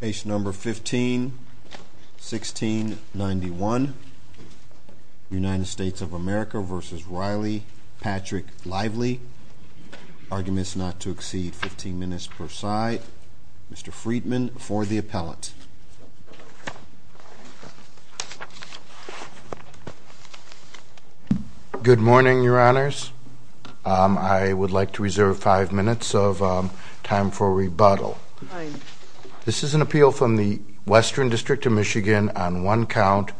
Page number 15, 1691. United States of America v. Riley Patrick Lively. Arguments not to exceed 15 minutes per side. Mr. Friedman for the appellate. Good morning, your honors. I would like to reserve five minutes of time for rebuttal. This is an appeal from the Western District of Michigan on one count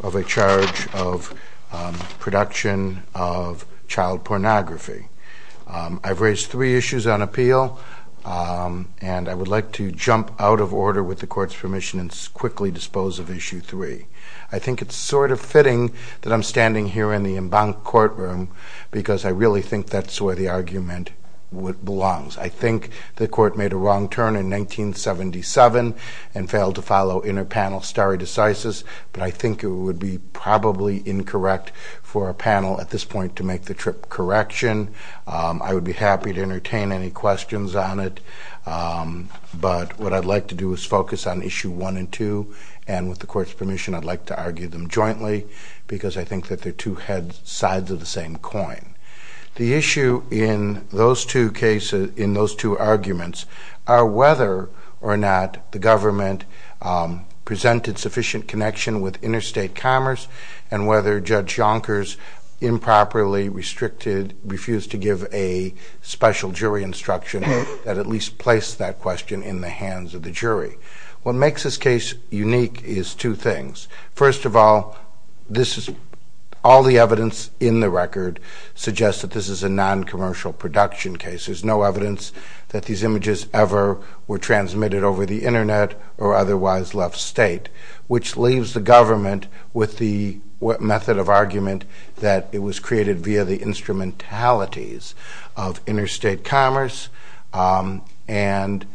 of a charge of production of child pornography. I've raised three charges. I think it's sort of fitting that I'm standing here in the court room because I really think that's where the argument belongs. I think the court made a wrong turn in 1977 and failed to follow inner panel stare decisis, but I think it would be probably incorrect for a panel at this point to make the trip correction. I would be happy to entertain any questions on it, but what I'd like to do is focus on issue one and two, and with the court's permission, I'd like to argue them jointly because I think that they're two sides of the same coin. The issue in those two cases, in those two arguments, are whether or not the government presented sufficient connection with interstate commerce and whether Judge Yonkers improperly refused to give a special jury instruction that at least placed that question in the hands of the jury. What makes this case unique is two things. First of all, all the evidence in the record suggests that this is a noncommercial production case. There's no evidence that these images ever were transmitted over the internet or otherwise left state, which leaves the government with the method of argument that it was created via the instrumentalities of interstate commerce, and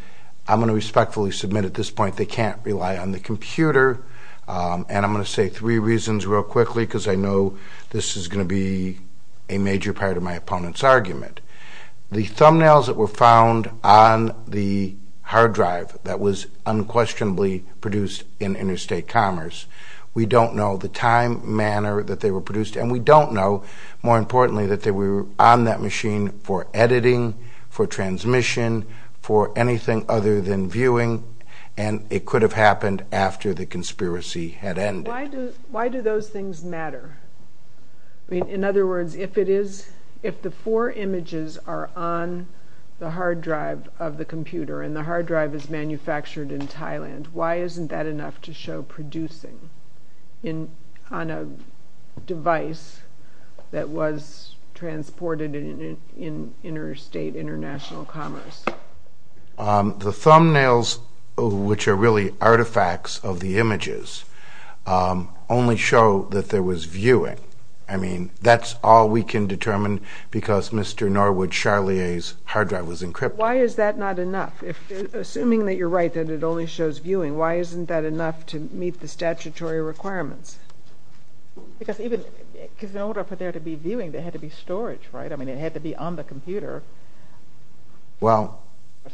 I'm going to respectfully submit at this point they can't rely on the computer, and I'm going to say three reasons real quickly because I know this is going to be a major part of my opponent's argument. The thumbnails that were found on the hard drive that was unquestionably produced in interstate commerce, we don't know the time, manner that they were produced, and we don't know, more importantly, that they were on that machine for editing, for transmission, for anything other than viewing, and it could have happened after the conspiracy had ended. Why do those things matter? In other words, if the four images are on the hard drive of the computer and the hard drive is manufactured in a device that was transported in interstate, international commerce? The thumbnails, which are really artifacts of the images, only show that there was viewing. I mean, that's all we can determine because Mr. Norwood Charlier's hard drive was encrypted. Why is that not enough? Assuming that you're right that it only shows viewing, why isn't that enough to meet the statutory requirements? Because in order for there to be viewing, there had to be storage, right? I mean, it had to be on the computer for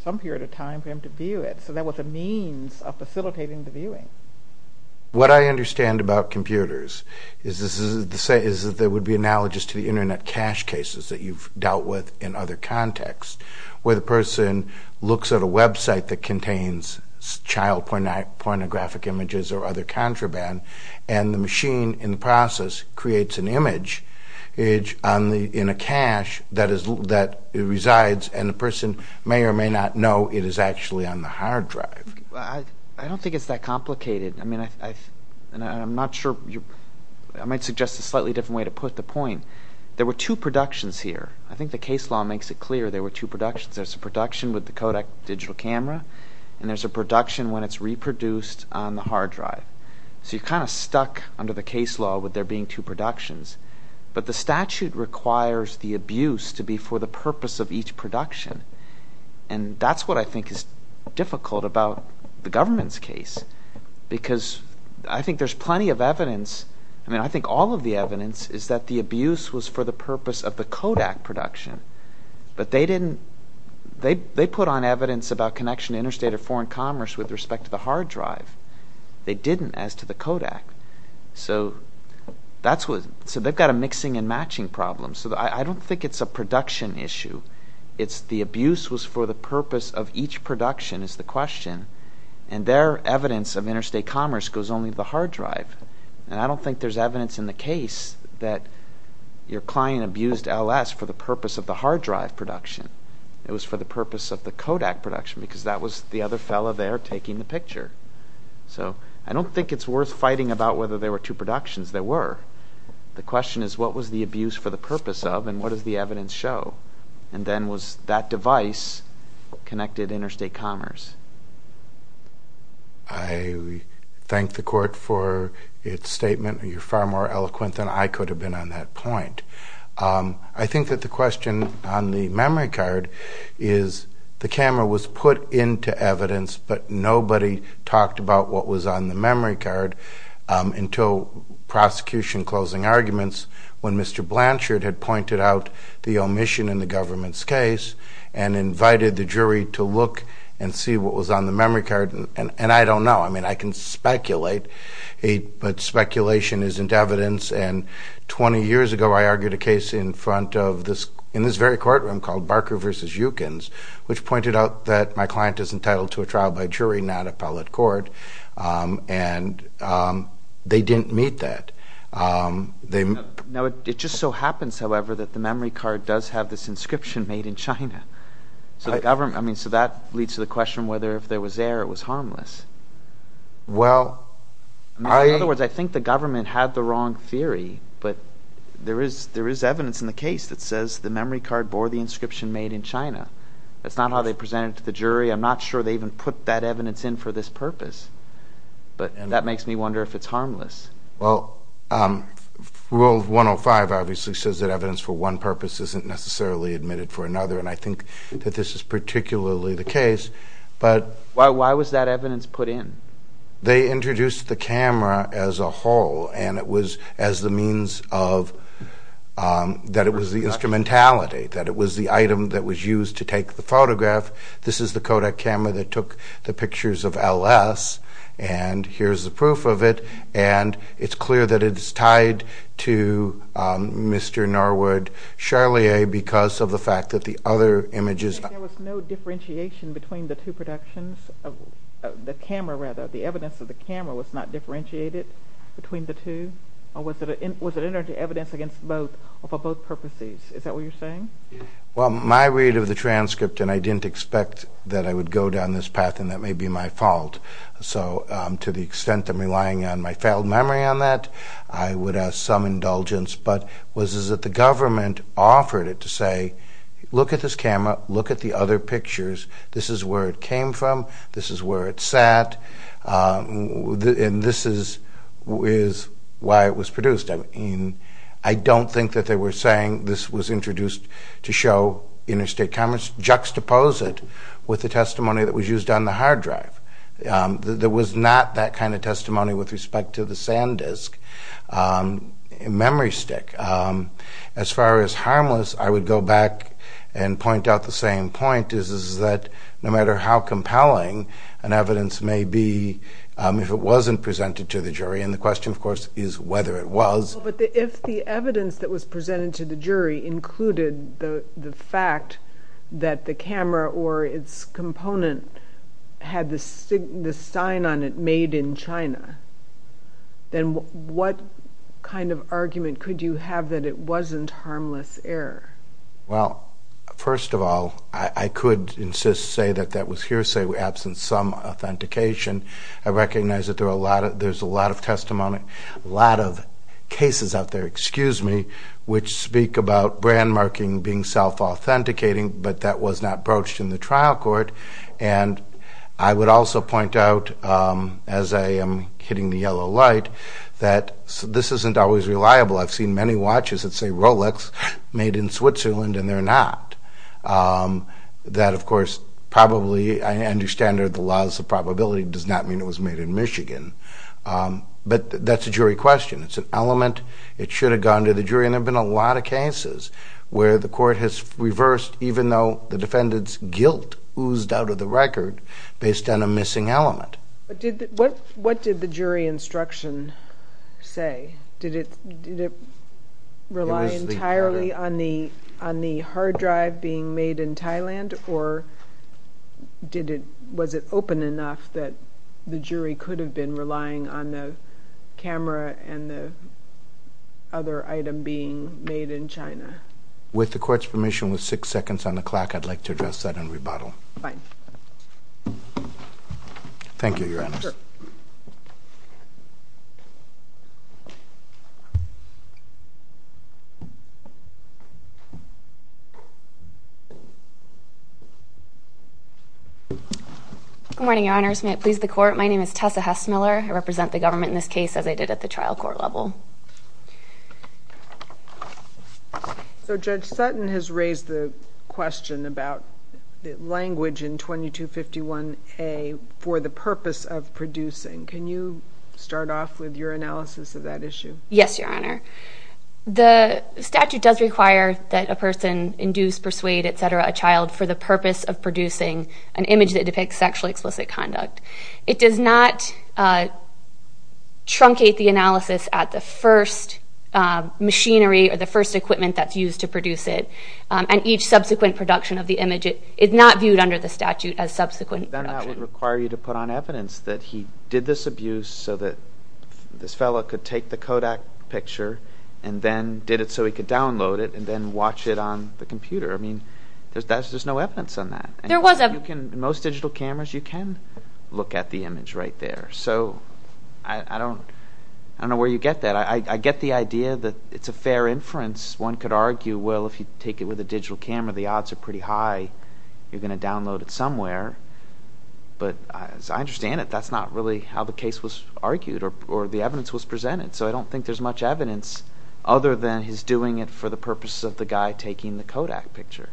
some period of time for him to view it, so that was a means of facilitating the viewing. What I understand about computers is that there would be analogous to the Internet cache cases that you've dealt with in other contexts, where the person looks at a website that contains child pornographic images or other contraband, and the machine, in the process, creates an image in a cache that resides, and the person may or may not know it is actually on the hard drive. I don't think it's that complicated. I mean, I'm not sure. I might suggest a slightly different way to put the point. There were two productions here. I think the case law makes it clear there were two productions. There's a production with the Kodak digital camera, and there's a production when it's reproduced on the hard drive. So you're kind of stuck under the case law with there being two productions. But the statute requires the abuse to be for the purpose of each production, and that's what I think is difficult about the government's case. Because I think there's plenty of evidence – I mean, I think all of the evidence is that the abuse was for the purpose of the Kodak production. But they didn't – they put on evidence about connection to interstate or foreign commerce with respect to the hard drive. They didn't as to the Kodak. So that's what – so they've got a mixing and matching problem. So I don't think it's a production issue. It's the abuse was for the purpose of each production is the question, and their evidence of interstate commerce goes only to the hard drive. And I don't think there's evidence in the case that your client abused LS for the purpose of the hard drive production. It was for the purpose of the Kodak production because that was the other fellow there taking the picture. So I don't think it's worth fighting about whether there were two productions. There were. The question is what was the abuse for the purpose of and what does the evidence show? And then was that device connected to interstate commerce? I thank the court for its statement. You're far more eloquent than I could have been on that point. I think that the question on the memory card is the camera was put into evidence, but nobody talked about what was on the memory card until prosecution closing arguments when Mr. Blanchard had pointed out the omission in the government's case and invited the jury to look and see what was on the memory card. And I don't know. I mean, I can speculate, but speculation isn't evidence. And 20 years ago, I argued a case in front of this in this very courtroom called Barker v. Yukins, which pointed out that my client is entitled to a trial by jury, not appellate court. And they didn't meet that. Now, it just so happens, however, that the memory card does have this inscription made in China. I mean, so that leads to the question whether if there was error, it was harmless. In other words, I think the government had the wrong theory, but there is evidence in the case that says the memory card bore the inscription made in China. That's not how they presented it to the jury. I'm not sure they even put that evidence in for this purpose. But that makes me wonder if it's harmless. Well, Rule 105 obviously says that evidence for one purpose isn't necessarily admitted for another. And I think that this is particularly the case. But why was that evidence put in? They introduced the camera as a whole, and it was as the means of that it was the instrumentality, that it was the item that was used to take the photograph. This is the Kodak camera that took the pictures of LS, and here's the proof of it. And it's clear that it's tied to Mr. Norwood Charlier because of the fact that the other images… There was no differentiation between the two productions? The camera, rather, the evidence of the camera was not differentiated between the two? Or was it evidence against both or for both purposes? Is that what you're saying? Well, my read of the transcript, and I didn't expect that I would go down this path, and that may be my fault. So to the extent that I'm relying on my failed memory on that, I would ask some indulgence. But it was as if the government offered it to say, look at this camera, look at the other pictures. This is where it came from, this is where it sat, and this is why it was produced. I don't think that they were saying this was introduced to show interstate cameras. Juxtapose it with the testimony that was used on the hard drive. There was not that kind of testimony with respect to the SanDisk memory stick. As far as harmless, I would go back and point out the same point, is that no matter how compelling an evidence may be, if it wasn't presented to the jury, and the question, of course, is whether it was. But if the evidence that was presented to the jury included the fact that the camera or its component had the sign on it made in China, then what kind of argument could you have that it wasn't harmless error? Well, first of all, I could insist, say that that was hearsay absent some authentication. I recognize that there's a lot of testimony, a lot of cases out there, excuse me, which speak about brand marking being self-authenticating, but that was not broached in the trial court. And I would also point out, as I am hitting the yellow light, that this isn't always reliable. I've seen many watches that say Rolex, made in Switzerland, and they're not. That, of course, probably, I understand there are the laws of probability, does not mean it was made in Michigan. But that's a jury question. It's an element. It should have gone to the jury, and there have been a lot of cases where the court has reversed, even though the defendant's guilt oozed out of the record, based on a missing element. What did the jury instruction say? Did it rely entirely on the hard drive being made in Thailand, or was it open enough that the jury could have been relying on the camera and the other item being made in China? With the court's permission, with six seconds on the clock, I'd like to address that and rebuttal. Thank you, Your Honor. Sure. Thank you. Good morning, Your Honors. May it please the Court, my name is Tessa Hess-Miller. I represent the government in this case, as I did at the trial court level. So Judge Sutton has raised the question about the language in 2251A for the purpose of producing. Can you start off with your analysis of that issue? Yes, Your Honor. The statute does require that a person induce, persuade, et cetera, a child for the purpose of producing an image that depicts sexually explicit conduct. It does not truncate the analysis at the first machinery or the first equipment that's used to produce it, and each subsequent production of the image is not viewed under the statute as subsequent production. I don't think that would require you to put on evidence that he did this abuse so that this fellow could take the Kodak picture and then did it so he could download it and then watch it on the computer. I mean, there's no evidence on that. There was evidence. In most digital cameras, you can look at the image right there. So I don't know where you get that. I get the idea that it's a fair inference. One could argue, well, if you take it with a digital camera, the odds are pretty high you're going to download it somewhere. But as I understand it, that's not really how the case was argued or the evidence was presented. So I don't think there's much evidence other than his doing it for the purpose of the guy taking the Kodak picture.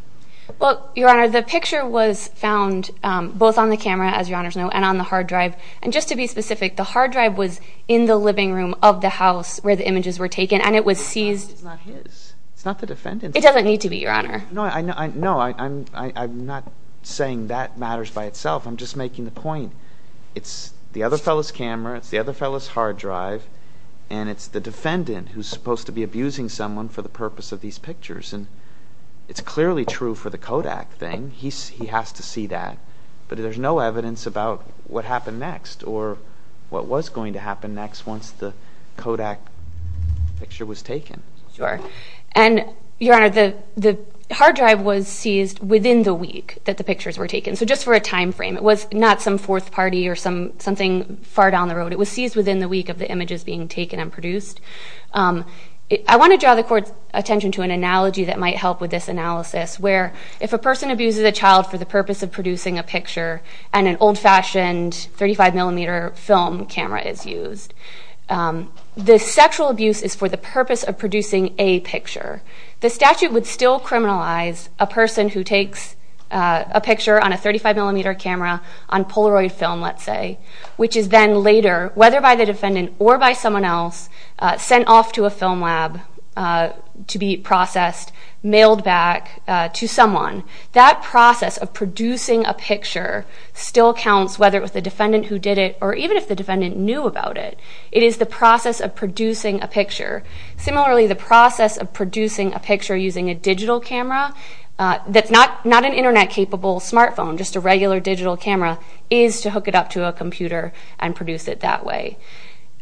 Well, Your Honor, the picture was found both on the camera, as Your Honor's know, and on the hard drive. And just to be specific, the hard drive was in the living room of the house where the images were taken, and it was seized. It's not his. It's not the defendant's. It doesn't need to be, Your Honor. No, I'm not saying that matters by itself. I'm just making the point it's the other fellow's camera, it's the other fellow's hard drive, and it's the defendant who's supposed to be abusing someone for the purpose of these pictures. And it's clearly true for the Kodak thing. He has to see that. But there's no evidence about what happened next or what was going to happen next once the Kodak picture was taken. Sure. And, Your Honor, the hard drive was seized within the week that the pictures were taken. So just for a time frame, it was not some fourth party or something far down the road. It was seized within the week of the images being taken and produced. I want to draw the court's attention to an analogy that might help with this analysis, where if a person abuses a child for the purpose of producing a picture and an old-fashioned 35-millimeter film camera is used, the sexual abuse is for the purpose of producing a picture. The statute would still criminalize a person who takes a picture on a 35-millimeter camera on Polaroid film, let's say, which is then later, whether by the defendant or by someone else, sent off to a film lab to be processed, mailed back to someone. That process of producing a picture still counts, whether it was the defendant who did it or even if the defendant knew about it. It is the process of producing a picture. Similarly, the process of producing a picture using a digital camera, not an Internet-capable smartphone, just a regular digital camera, is to hook it up to a computer and produce it that way.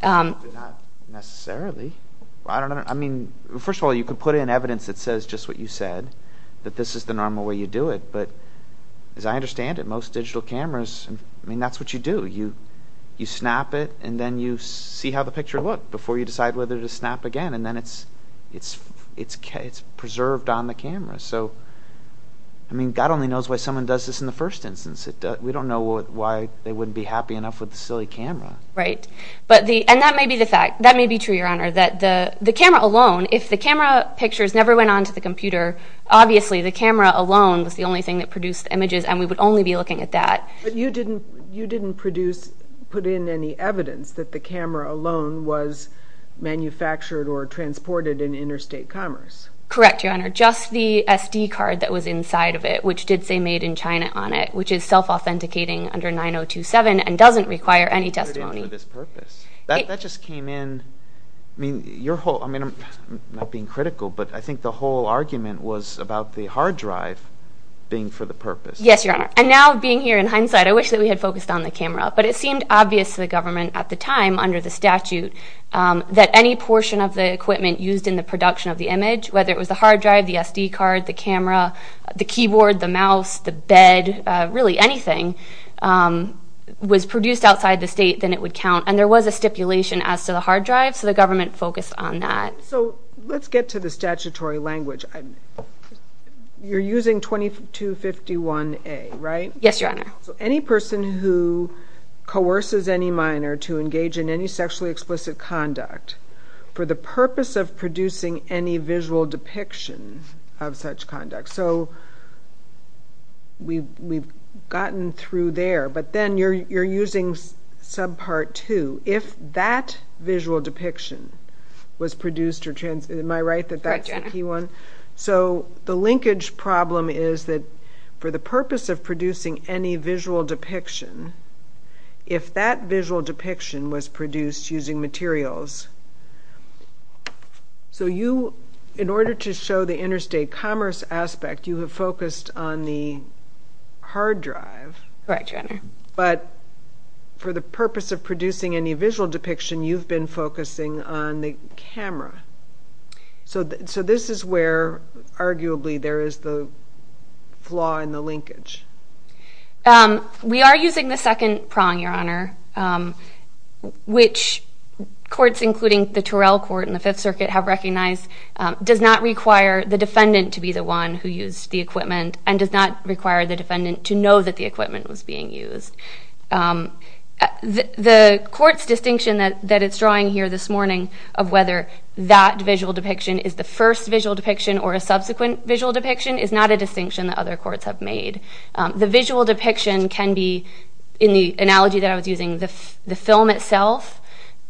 But not necessarily. I mean, first of all, you could put in evidence that says just what you said, that this is the normal way you do it. But as I understand it, most digital cameras, I mean, that's what you do. You snap it, and then you see how the picture looked before you decide whether to snap again, and then it's preserved on the camera. So, I mean, God only knows why someone does this in the first instance. We don't know why they wouldn't be happy enough with the silly camera. Right. And that may be the fact. That may be true, Your Honor, that the camera alone, if the camera pictures never went on to the computer, obviously the camera alone was the only thing that produced images, and we would only be looking at that. But you didn't put in any evidence that the camera alone was manufactured or transported in interstate commerce. Correct, Your Honor. Just the SD card that was inside of it, which did say made in China on it, which is self-authenticating under 9027 and doesn't require any testimony. That just came in. I mean, I'm not being critical, but I think the whole argument was about the hard drive being for the purpose. Yes, Your Honor. And now, being here in hindsight, I wish that we had focused on the camera. But it seemed obvious to the government at the time under the statute that any portion of the equipment used in the production of the image, whether it was the hard drive, the SD card, the camera, the keyboard, the mouse, the bed, really anything, was produced outside the state, then it would count. And there was a stipulation as to the hard drive, so the government focused on that. So let's get to the statutory language. You're using 2251A, right? Yes, Your Honor. So any person who coerces any minor to engage in any sexually explicit conduct for the purpose of producing any visual depiction of such conduct. So we've gotten through there, but then you're using subpart 2. If that visual depiction was produced or transmitted, am I right that that's the key one? Correct, Your Honor. So the linkage problem is that for the purpose of producing any visual depiction, if that visual depiction was produced using materials, so you, in order to show the interstate commerce aspect, you have focused on the hard drive. Correct, Your Honor. But for the purpose of producing any visual depiction, you've been focusing on the camera. So this is where, arguably, there is the flaw in the linkage. We are using the second prong, Your Honor, which courts, including the Torrell Court and the Fifth Circuit, have recognized, does not require the defendant to be the one who used the equipment and does not require the defendant to know that the equipment was being used. The court's distinction that it's drawing here this morning of whether that visual depiction is the first visual depiction or a subsequent visual depiction is not a distinction that other courts have made. The visual depiction can be, in the analogy that I was using, the film itself,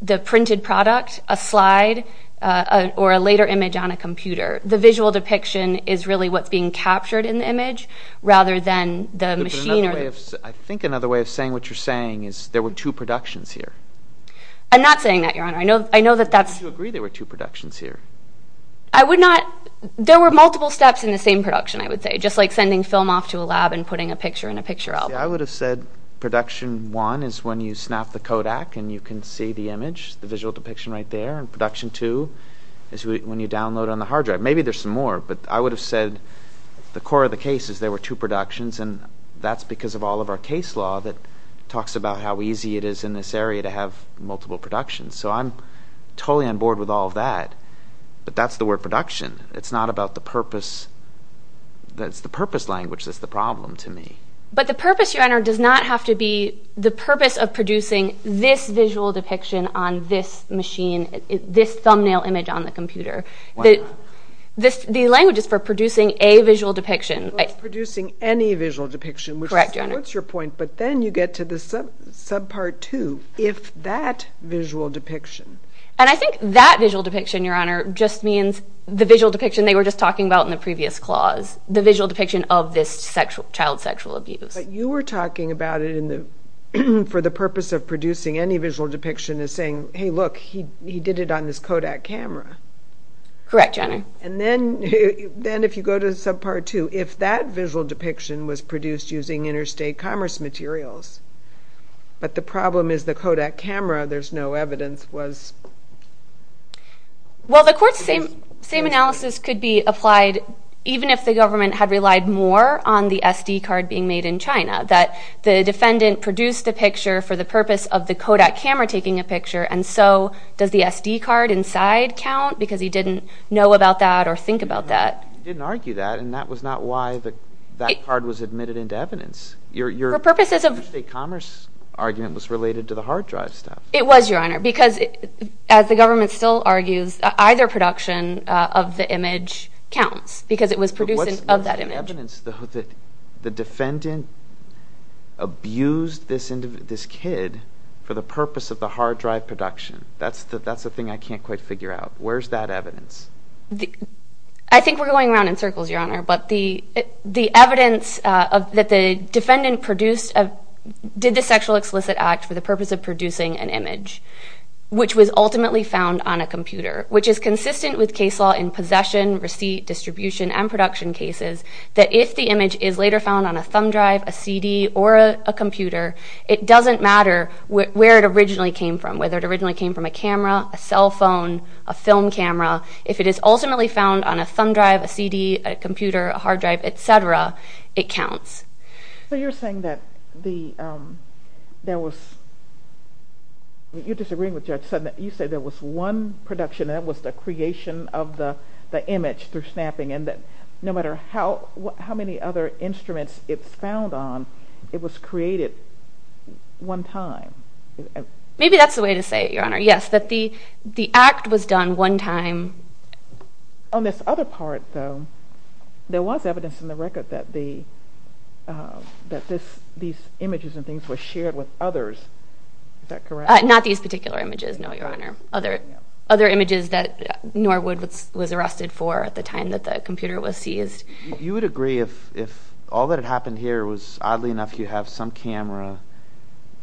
the printed product, a slide, or a later image on a computer. The visual depiction is really what's being captured in the image rather than the machine. I think another way of saying what you're saying is there were two productions here. I'm not saying that, Your Honor. I know that that's... But you agree there were two productions here. I would not. There were multiple steps in the same production, I would say, just like sending film off to a lab and putting a picture in a picture album. See, I would have said production one is when you snap the Kodak and you can see the image, the visual depiction right there, and production two is when you download on the hard drive. Maybe there's some more, but I would have said the core of the case is there were two productions, and that's because of all of our case law that talks about how easy it is in this area to have multiple productions. So I'm totally on board with all of that, but that's the word production. It's not about the purpose. It's the purpose language that's the problem to me. But the purpose, Your Honor, does not have to be the purpose of producing this visual depiction on this machine, this thumbnail image on the computer. Why not? The language is for producing a visual depiction. Well, it's producing any visual depiction. Correct, Your Honor. Which supports your point, but then you get to the subpart two, if that visual depiction... And I think that visual depiction, Your Honor, just means the visual depiction they were just talking about in the previous clause, the visual depiction of this child's sexual abuse. But you were talking about it for the purpose of producing any visual depiction as saying, hey, look, he did it on this Kodak camera. Correct, Your Honor. And then if you go to subpart two, if that visual depiction was produced using interstate commerce materials, but the problem is the Kodak camera, there's no evidence, was... Well, the court's same analysis could be applied even if the government had relied more on the SD card being made in China, that the defendant produced the picture for the purpose of the Kodak camera taking a picture, and so does the SD card inside count? Because he didn't know about that or think about that. He didn't argue that, and that was not why that card was admitted into evidence. Your interstate commerce argument was related to the hard drive stuff. It was, Your Honor, because as the government still argues, either production of the image counts because it was produced of that image. But what's the evidence that the defendant abused this kid for the purpose of the hard drive production? That's the thing I can't quite figure out. Where's that evidence? I think we're going around in circles, Your Honor, but the evidence that the defendant did the sexual explicit act for the purpose of producing an image, which was ultimately found on a computer, which is consistent with case law in possession, receipt, distribution, and production cases, that if the image is later found on a thumb drive, a CD, or a computer, it doesn't matter where it originally came from, whether it originally came from a camera, a cell phone, a film camera. If it is ultimately found on a thumb drive, a CD, a computer, a hard drive, et cetera, it counts. So you're saying that there was, you're disagreeing with Judge Sutton, that you said there was one production, and that was the creation of the image through snapping, and that no matter how many other instruments it's found on, it was created one time. Maybe that's the way to say it, Your Honor. Yes, that the act was done one time. On this other part, though, there was evidence in the record that these images and things were shared with others. Is that correct? Not these particular images, no, Your Honor. Other images that Norwood was arrested for at the time that the computer was seized. You would agree if all that had happened here was, oddly enough, you have some camera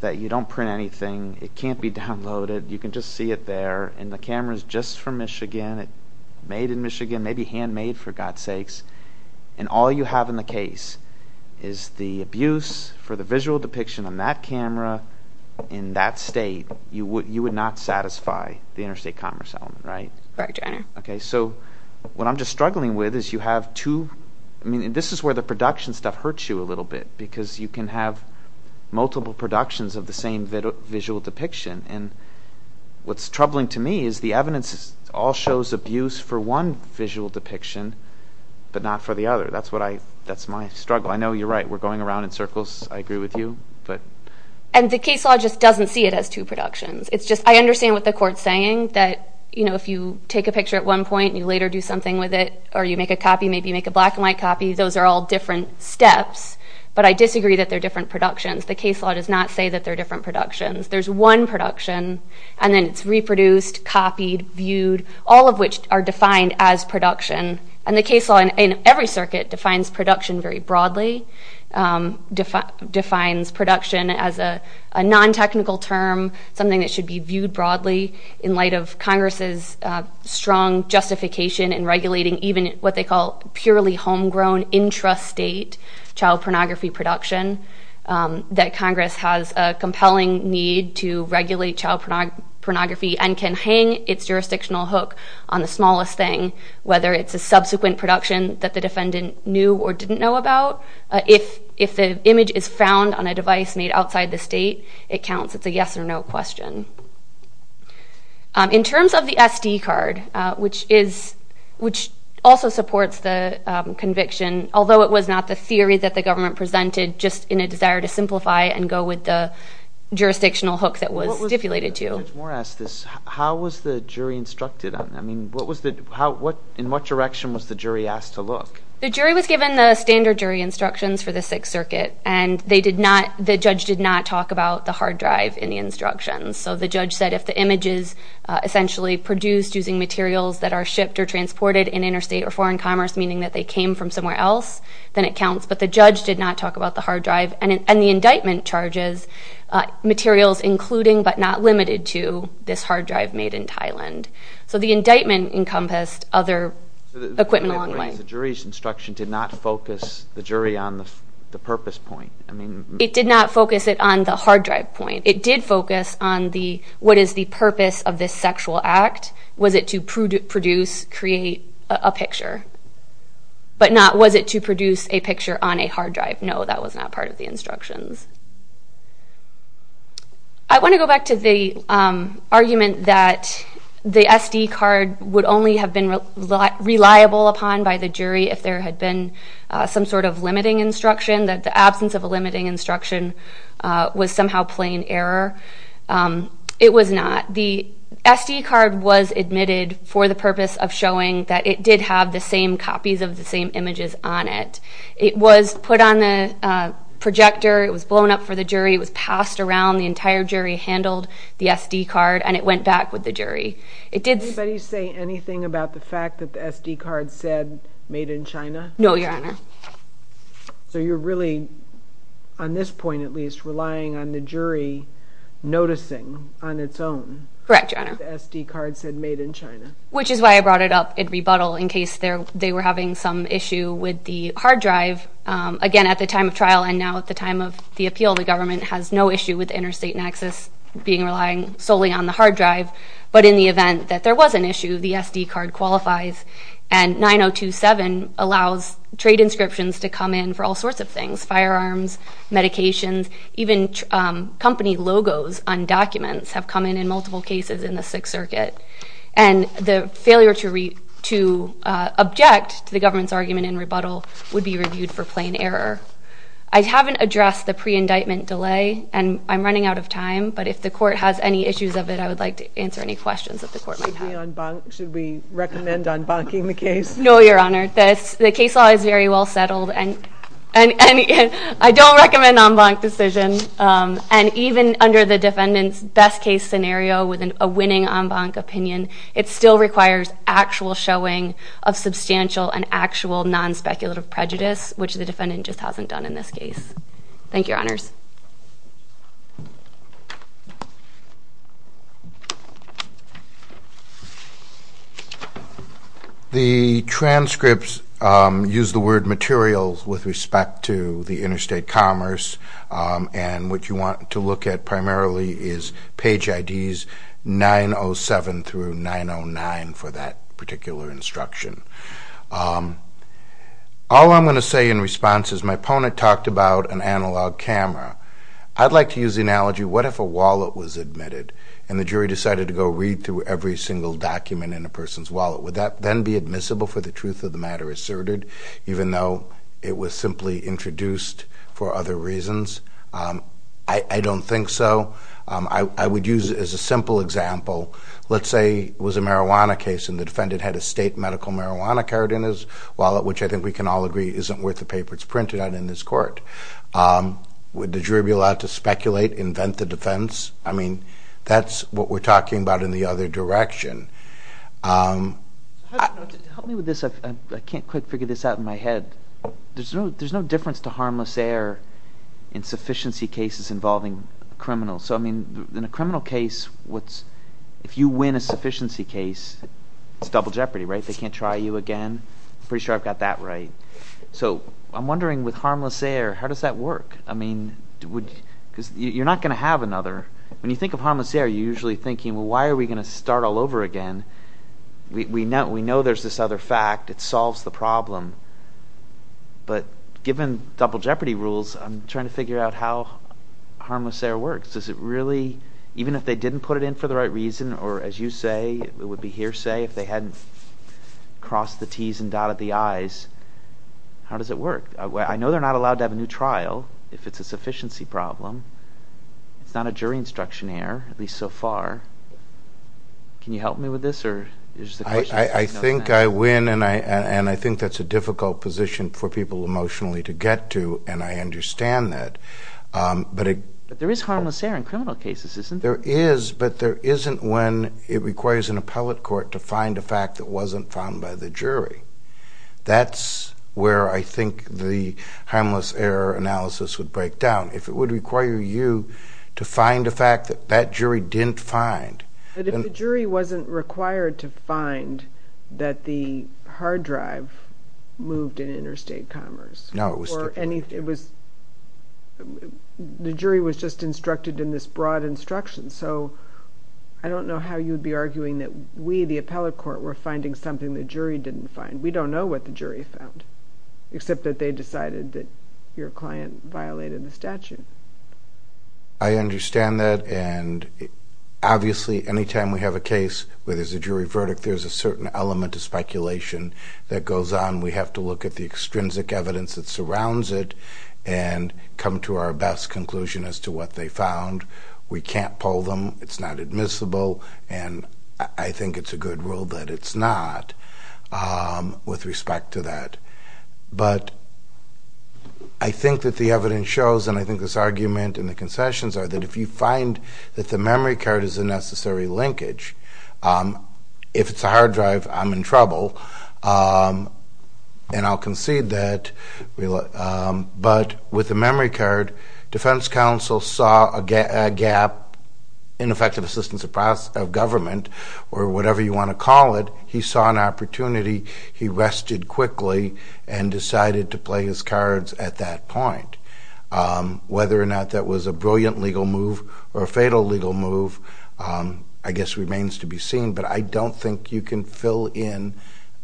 that you don't print anything, it can't be downloaded, you can just see it there, and the camera's just from Michigan, made in Michigan, maybe handmade for God's sakes, and all you have in the case is the abuse for the visual depiction on that camera in that state, you would not satisfy the interstate commerce element, right? Correct, Your Honor. Okay, so what I'm just struggling with is you have two, I mean, this is where the production stuff hurts you a little bit, because you can have multiple productions of the same visual depiction, and what's troubling to me is the evidence all shows abuse for one visual depiction, but not for the other. That's my struggle. I know you're right, we're going around in circles, I agree with you. And the case law just doesn't see it as two productions. It's just I understand what the court's saying, that if you take a picture at one point and you later do something with it, or you make a copy, maybe you make a black and white copy, those are all different steps, but I disagree that they're different productions. The case law does not say that they're different productions. There's one production, and then it's reproduced, copied, viewed, all of which are defined as production, and the case law in every circuit defines production very broadly, defines production as a non-technical term, something that should be viewed broadly, in light of Congress's strong justification in regulating even what they call purely homegrown intrastate child pornography production, that Congress has a compelling need to regulate child pornography and can hang its jurisdictional hook on the smallest thing, whether it's a subsequent production that the defendant knew or didn't know about, or if the image is found on a device made outside the state, it counts. It's a yes or no question. In terms of the SD card, which also supports the conviction, although it was not the theory that the government presented, just in a desire to simplify and go with the jurisdictional hook that was stipulated to. Judge Moore asked this. How was the jury instructed on that? I mean, in what direction was the jury asked to look? The jury was given the standard jury instructions for the Sixth Circuit, and they did not, the judge did not talk about the hard drive in the instructions. So the judge said if the image is essentially produced using materials that are shipped or transported in interstate or foreign commerce, meaning that they came from somewhere else, then it counts. But the judge did not talk about the hard drive, and the indictment charges materials including, but not limited to, this hard drive made in Thailand. So the indictment encompassed other equipment along the way. The jury's instruction did not focus the jury on the purpose point. It did not focus it on the hard drive point. It did focus on what is the purpose of this sexual act. Was it to produce, create a picture? But not was it to produce a picture on a hard drive. No, that was not part of the instructions. I want to go back to the argument that the SD card would only have been reliable upon by the jury if there had been some sort of limiting instruction, that the absence of a limiting instruction was somehow plain error. It was not. The SD card was admitted for the purpose of showing that it did have the same copies of the same images on it. It was put on the projector. It was blown up for the jury. It was passed around. The entire jury handled the SD card, and it went back with the jury. Did anybody say anything about the fact that the SD card said made in China? No, Your Honor. So you're really, on this point at least, relying on the jury noticing on its own that the SD card said made in China. Correct, Your Honor, which is why I brought it up in rebuttal in case they were having some issue with the hard drive. Again, at the time of trial and now at the time of the appeal, the government has no issue with the interstate nexus being relying solely on the hard drive. But in the event that there was an issue, the SD card qualifies, and 9027 allows trade inscriptions to come in for all sorts of things, firearms, medications, even company logos on documents have come in in multiple cases in the Sixth Circuit. And the failure to object to the government's argument in rebuttal would be reviewed for plain error. I haven't addressed the pre-indictment delay, and I'm running out of time, but if the court has any issues of it, I would like to answer any questions that the court might have. Should we recommend enbanking the case? No, Your Honor. The case law is very well settled, and I don't recommend an enbank decision. Even under the defendant's best-case scenario with a winning enbank opinion, it still requires actual showing of substantial and actual non-speculative prejudice, which the defendant just hasn't done in this case. Thank you, Your Honors. Thank you. The transcripts use the word materials with respect to the interstate commerce, and what you want to look at primarily is page IDs 907 through 909 for that particular instruction. All I'm going to say in response is my opponent talked about an analog camera. I'd like to use the analogy, what if a wallet was admitted and the jury decided to go read through every single document in a person's wallet? Would that then be admissible for the truth of the matter asserted, even though it was simply introduced for other reasons? I don't think so. I would use it as a simple example. Let's say it was a marijuana case, and the defendant had a state medical marijuana card in his wallet, which I think we can all agree isn't worth the paper it's printed on in this court. Would the jury be allowed to speculate, invent the defense? I mean, that's what we're talking about in the other direction. Help me with this. I can't quite figure this out in my head. There's no difference to harmless error in sufficiency cases involving criminals. So, I mean, in a criminal case, if you win a sufficiency case, it's double jeopardy, right? They can't try you again. I'm pretty sure I've got that right. So I'm wondering, with harmless error, how does that work? I mean, because you're not going to have another. When you think of harmless error, you're usually thinking, well, why are we going to start all over again? We know there's this other fact. It solves the problem. But given double jeopardy rules, I'm trying to figure out how harmless error works. Does it really, even if they didn't put it in for the right reason, or as you say, it would be hearsay if they hadn't crossed the T's and dotted the I's, how does it work? I know they're not allowed to have a new trial if it's a sufficiency problem. It's not a jury instruction error, at least so far. Can you help me with this? I think I win, and I think that's a difficult position for people emotionally to get to, and I understand that. There is, but there isn't when it requires an appellate court to find a fact that wasn't found by the jury. That's where I think the harmless error analysis would break down. If it would require you to find a fact that that jury didn't find. But if the jury wasn't required to find that the hard drive moved in Interstate Commerce, the jury was just instructed in this broad instruction, so I don't know how you'd be arguing that we, the appellate court, were finding something the jury didn't find. We don't know what the jury found, except that they decided that your client violated the statute. I understand that, and obviously any time we have a case where there's a jury verdict, there's a certain element of speculation that goes on. We have to look at the extrinsic evidence that surrounds it and come to our best conclusion as to what they found. We can't pull them. It's not admissible, and I think it's a good rule that it's not with respect to that. But I think that the evidence shows, and I think this argument in the concessions are, that if you find that the memory card is a necessary linkage, if it's a hard drive, I'm in trouble. And I'll concede that, but with the memory card, defense counsel saw a gap in effective assistance of government, or whatever you want to call it. He saw an opportunity. He rested quickly and decided to play his cards at that point. Whether or not that was a brilliant legal move or a fatal legal move, I guess remains to be seen, but I don't think you can fill in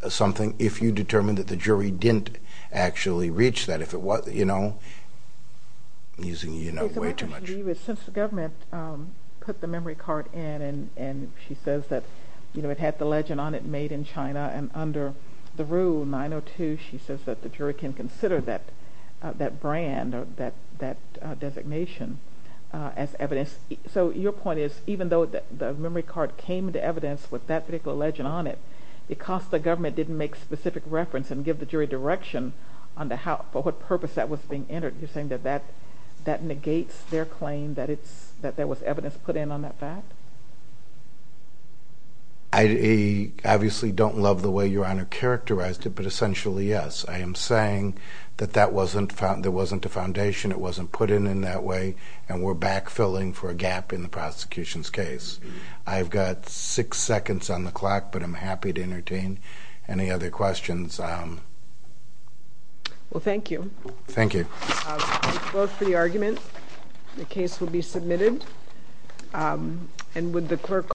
something if you determine that the jury didn't actually reach that. If it was, you know, I'm using way too much. Since the government put the memory card in, and she says that it had the legend on it made in China, and under the rule 902, she says that the jury can consider that brand or that designation as evidence. So your point is, even though the memory card came into evidence with that particular legend on it, because the government didn't make specific reference and give the jury direction for what purpose that was being entered, you're saying that that negates their claim that there was evidence put in on that fact? I obviously don't love the way Your Honor characterized it, but essentially, yes. I am saying that there wasn't a foundation. It wasn't put in in that way, and we're back-filling for a gap in the prosecution's case. I've got six seconds on the clock, but I'm happy to entertain any other questions. Well, thank you. Thank you. We'll close for the argument. The case will be submitted.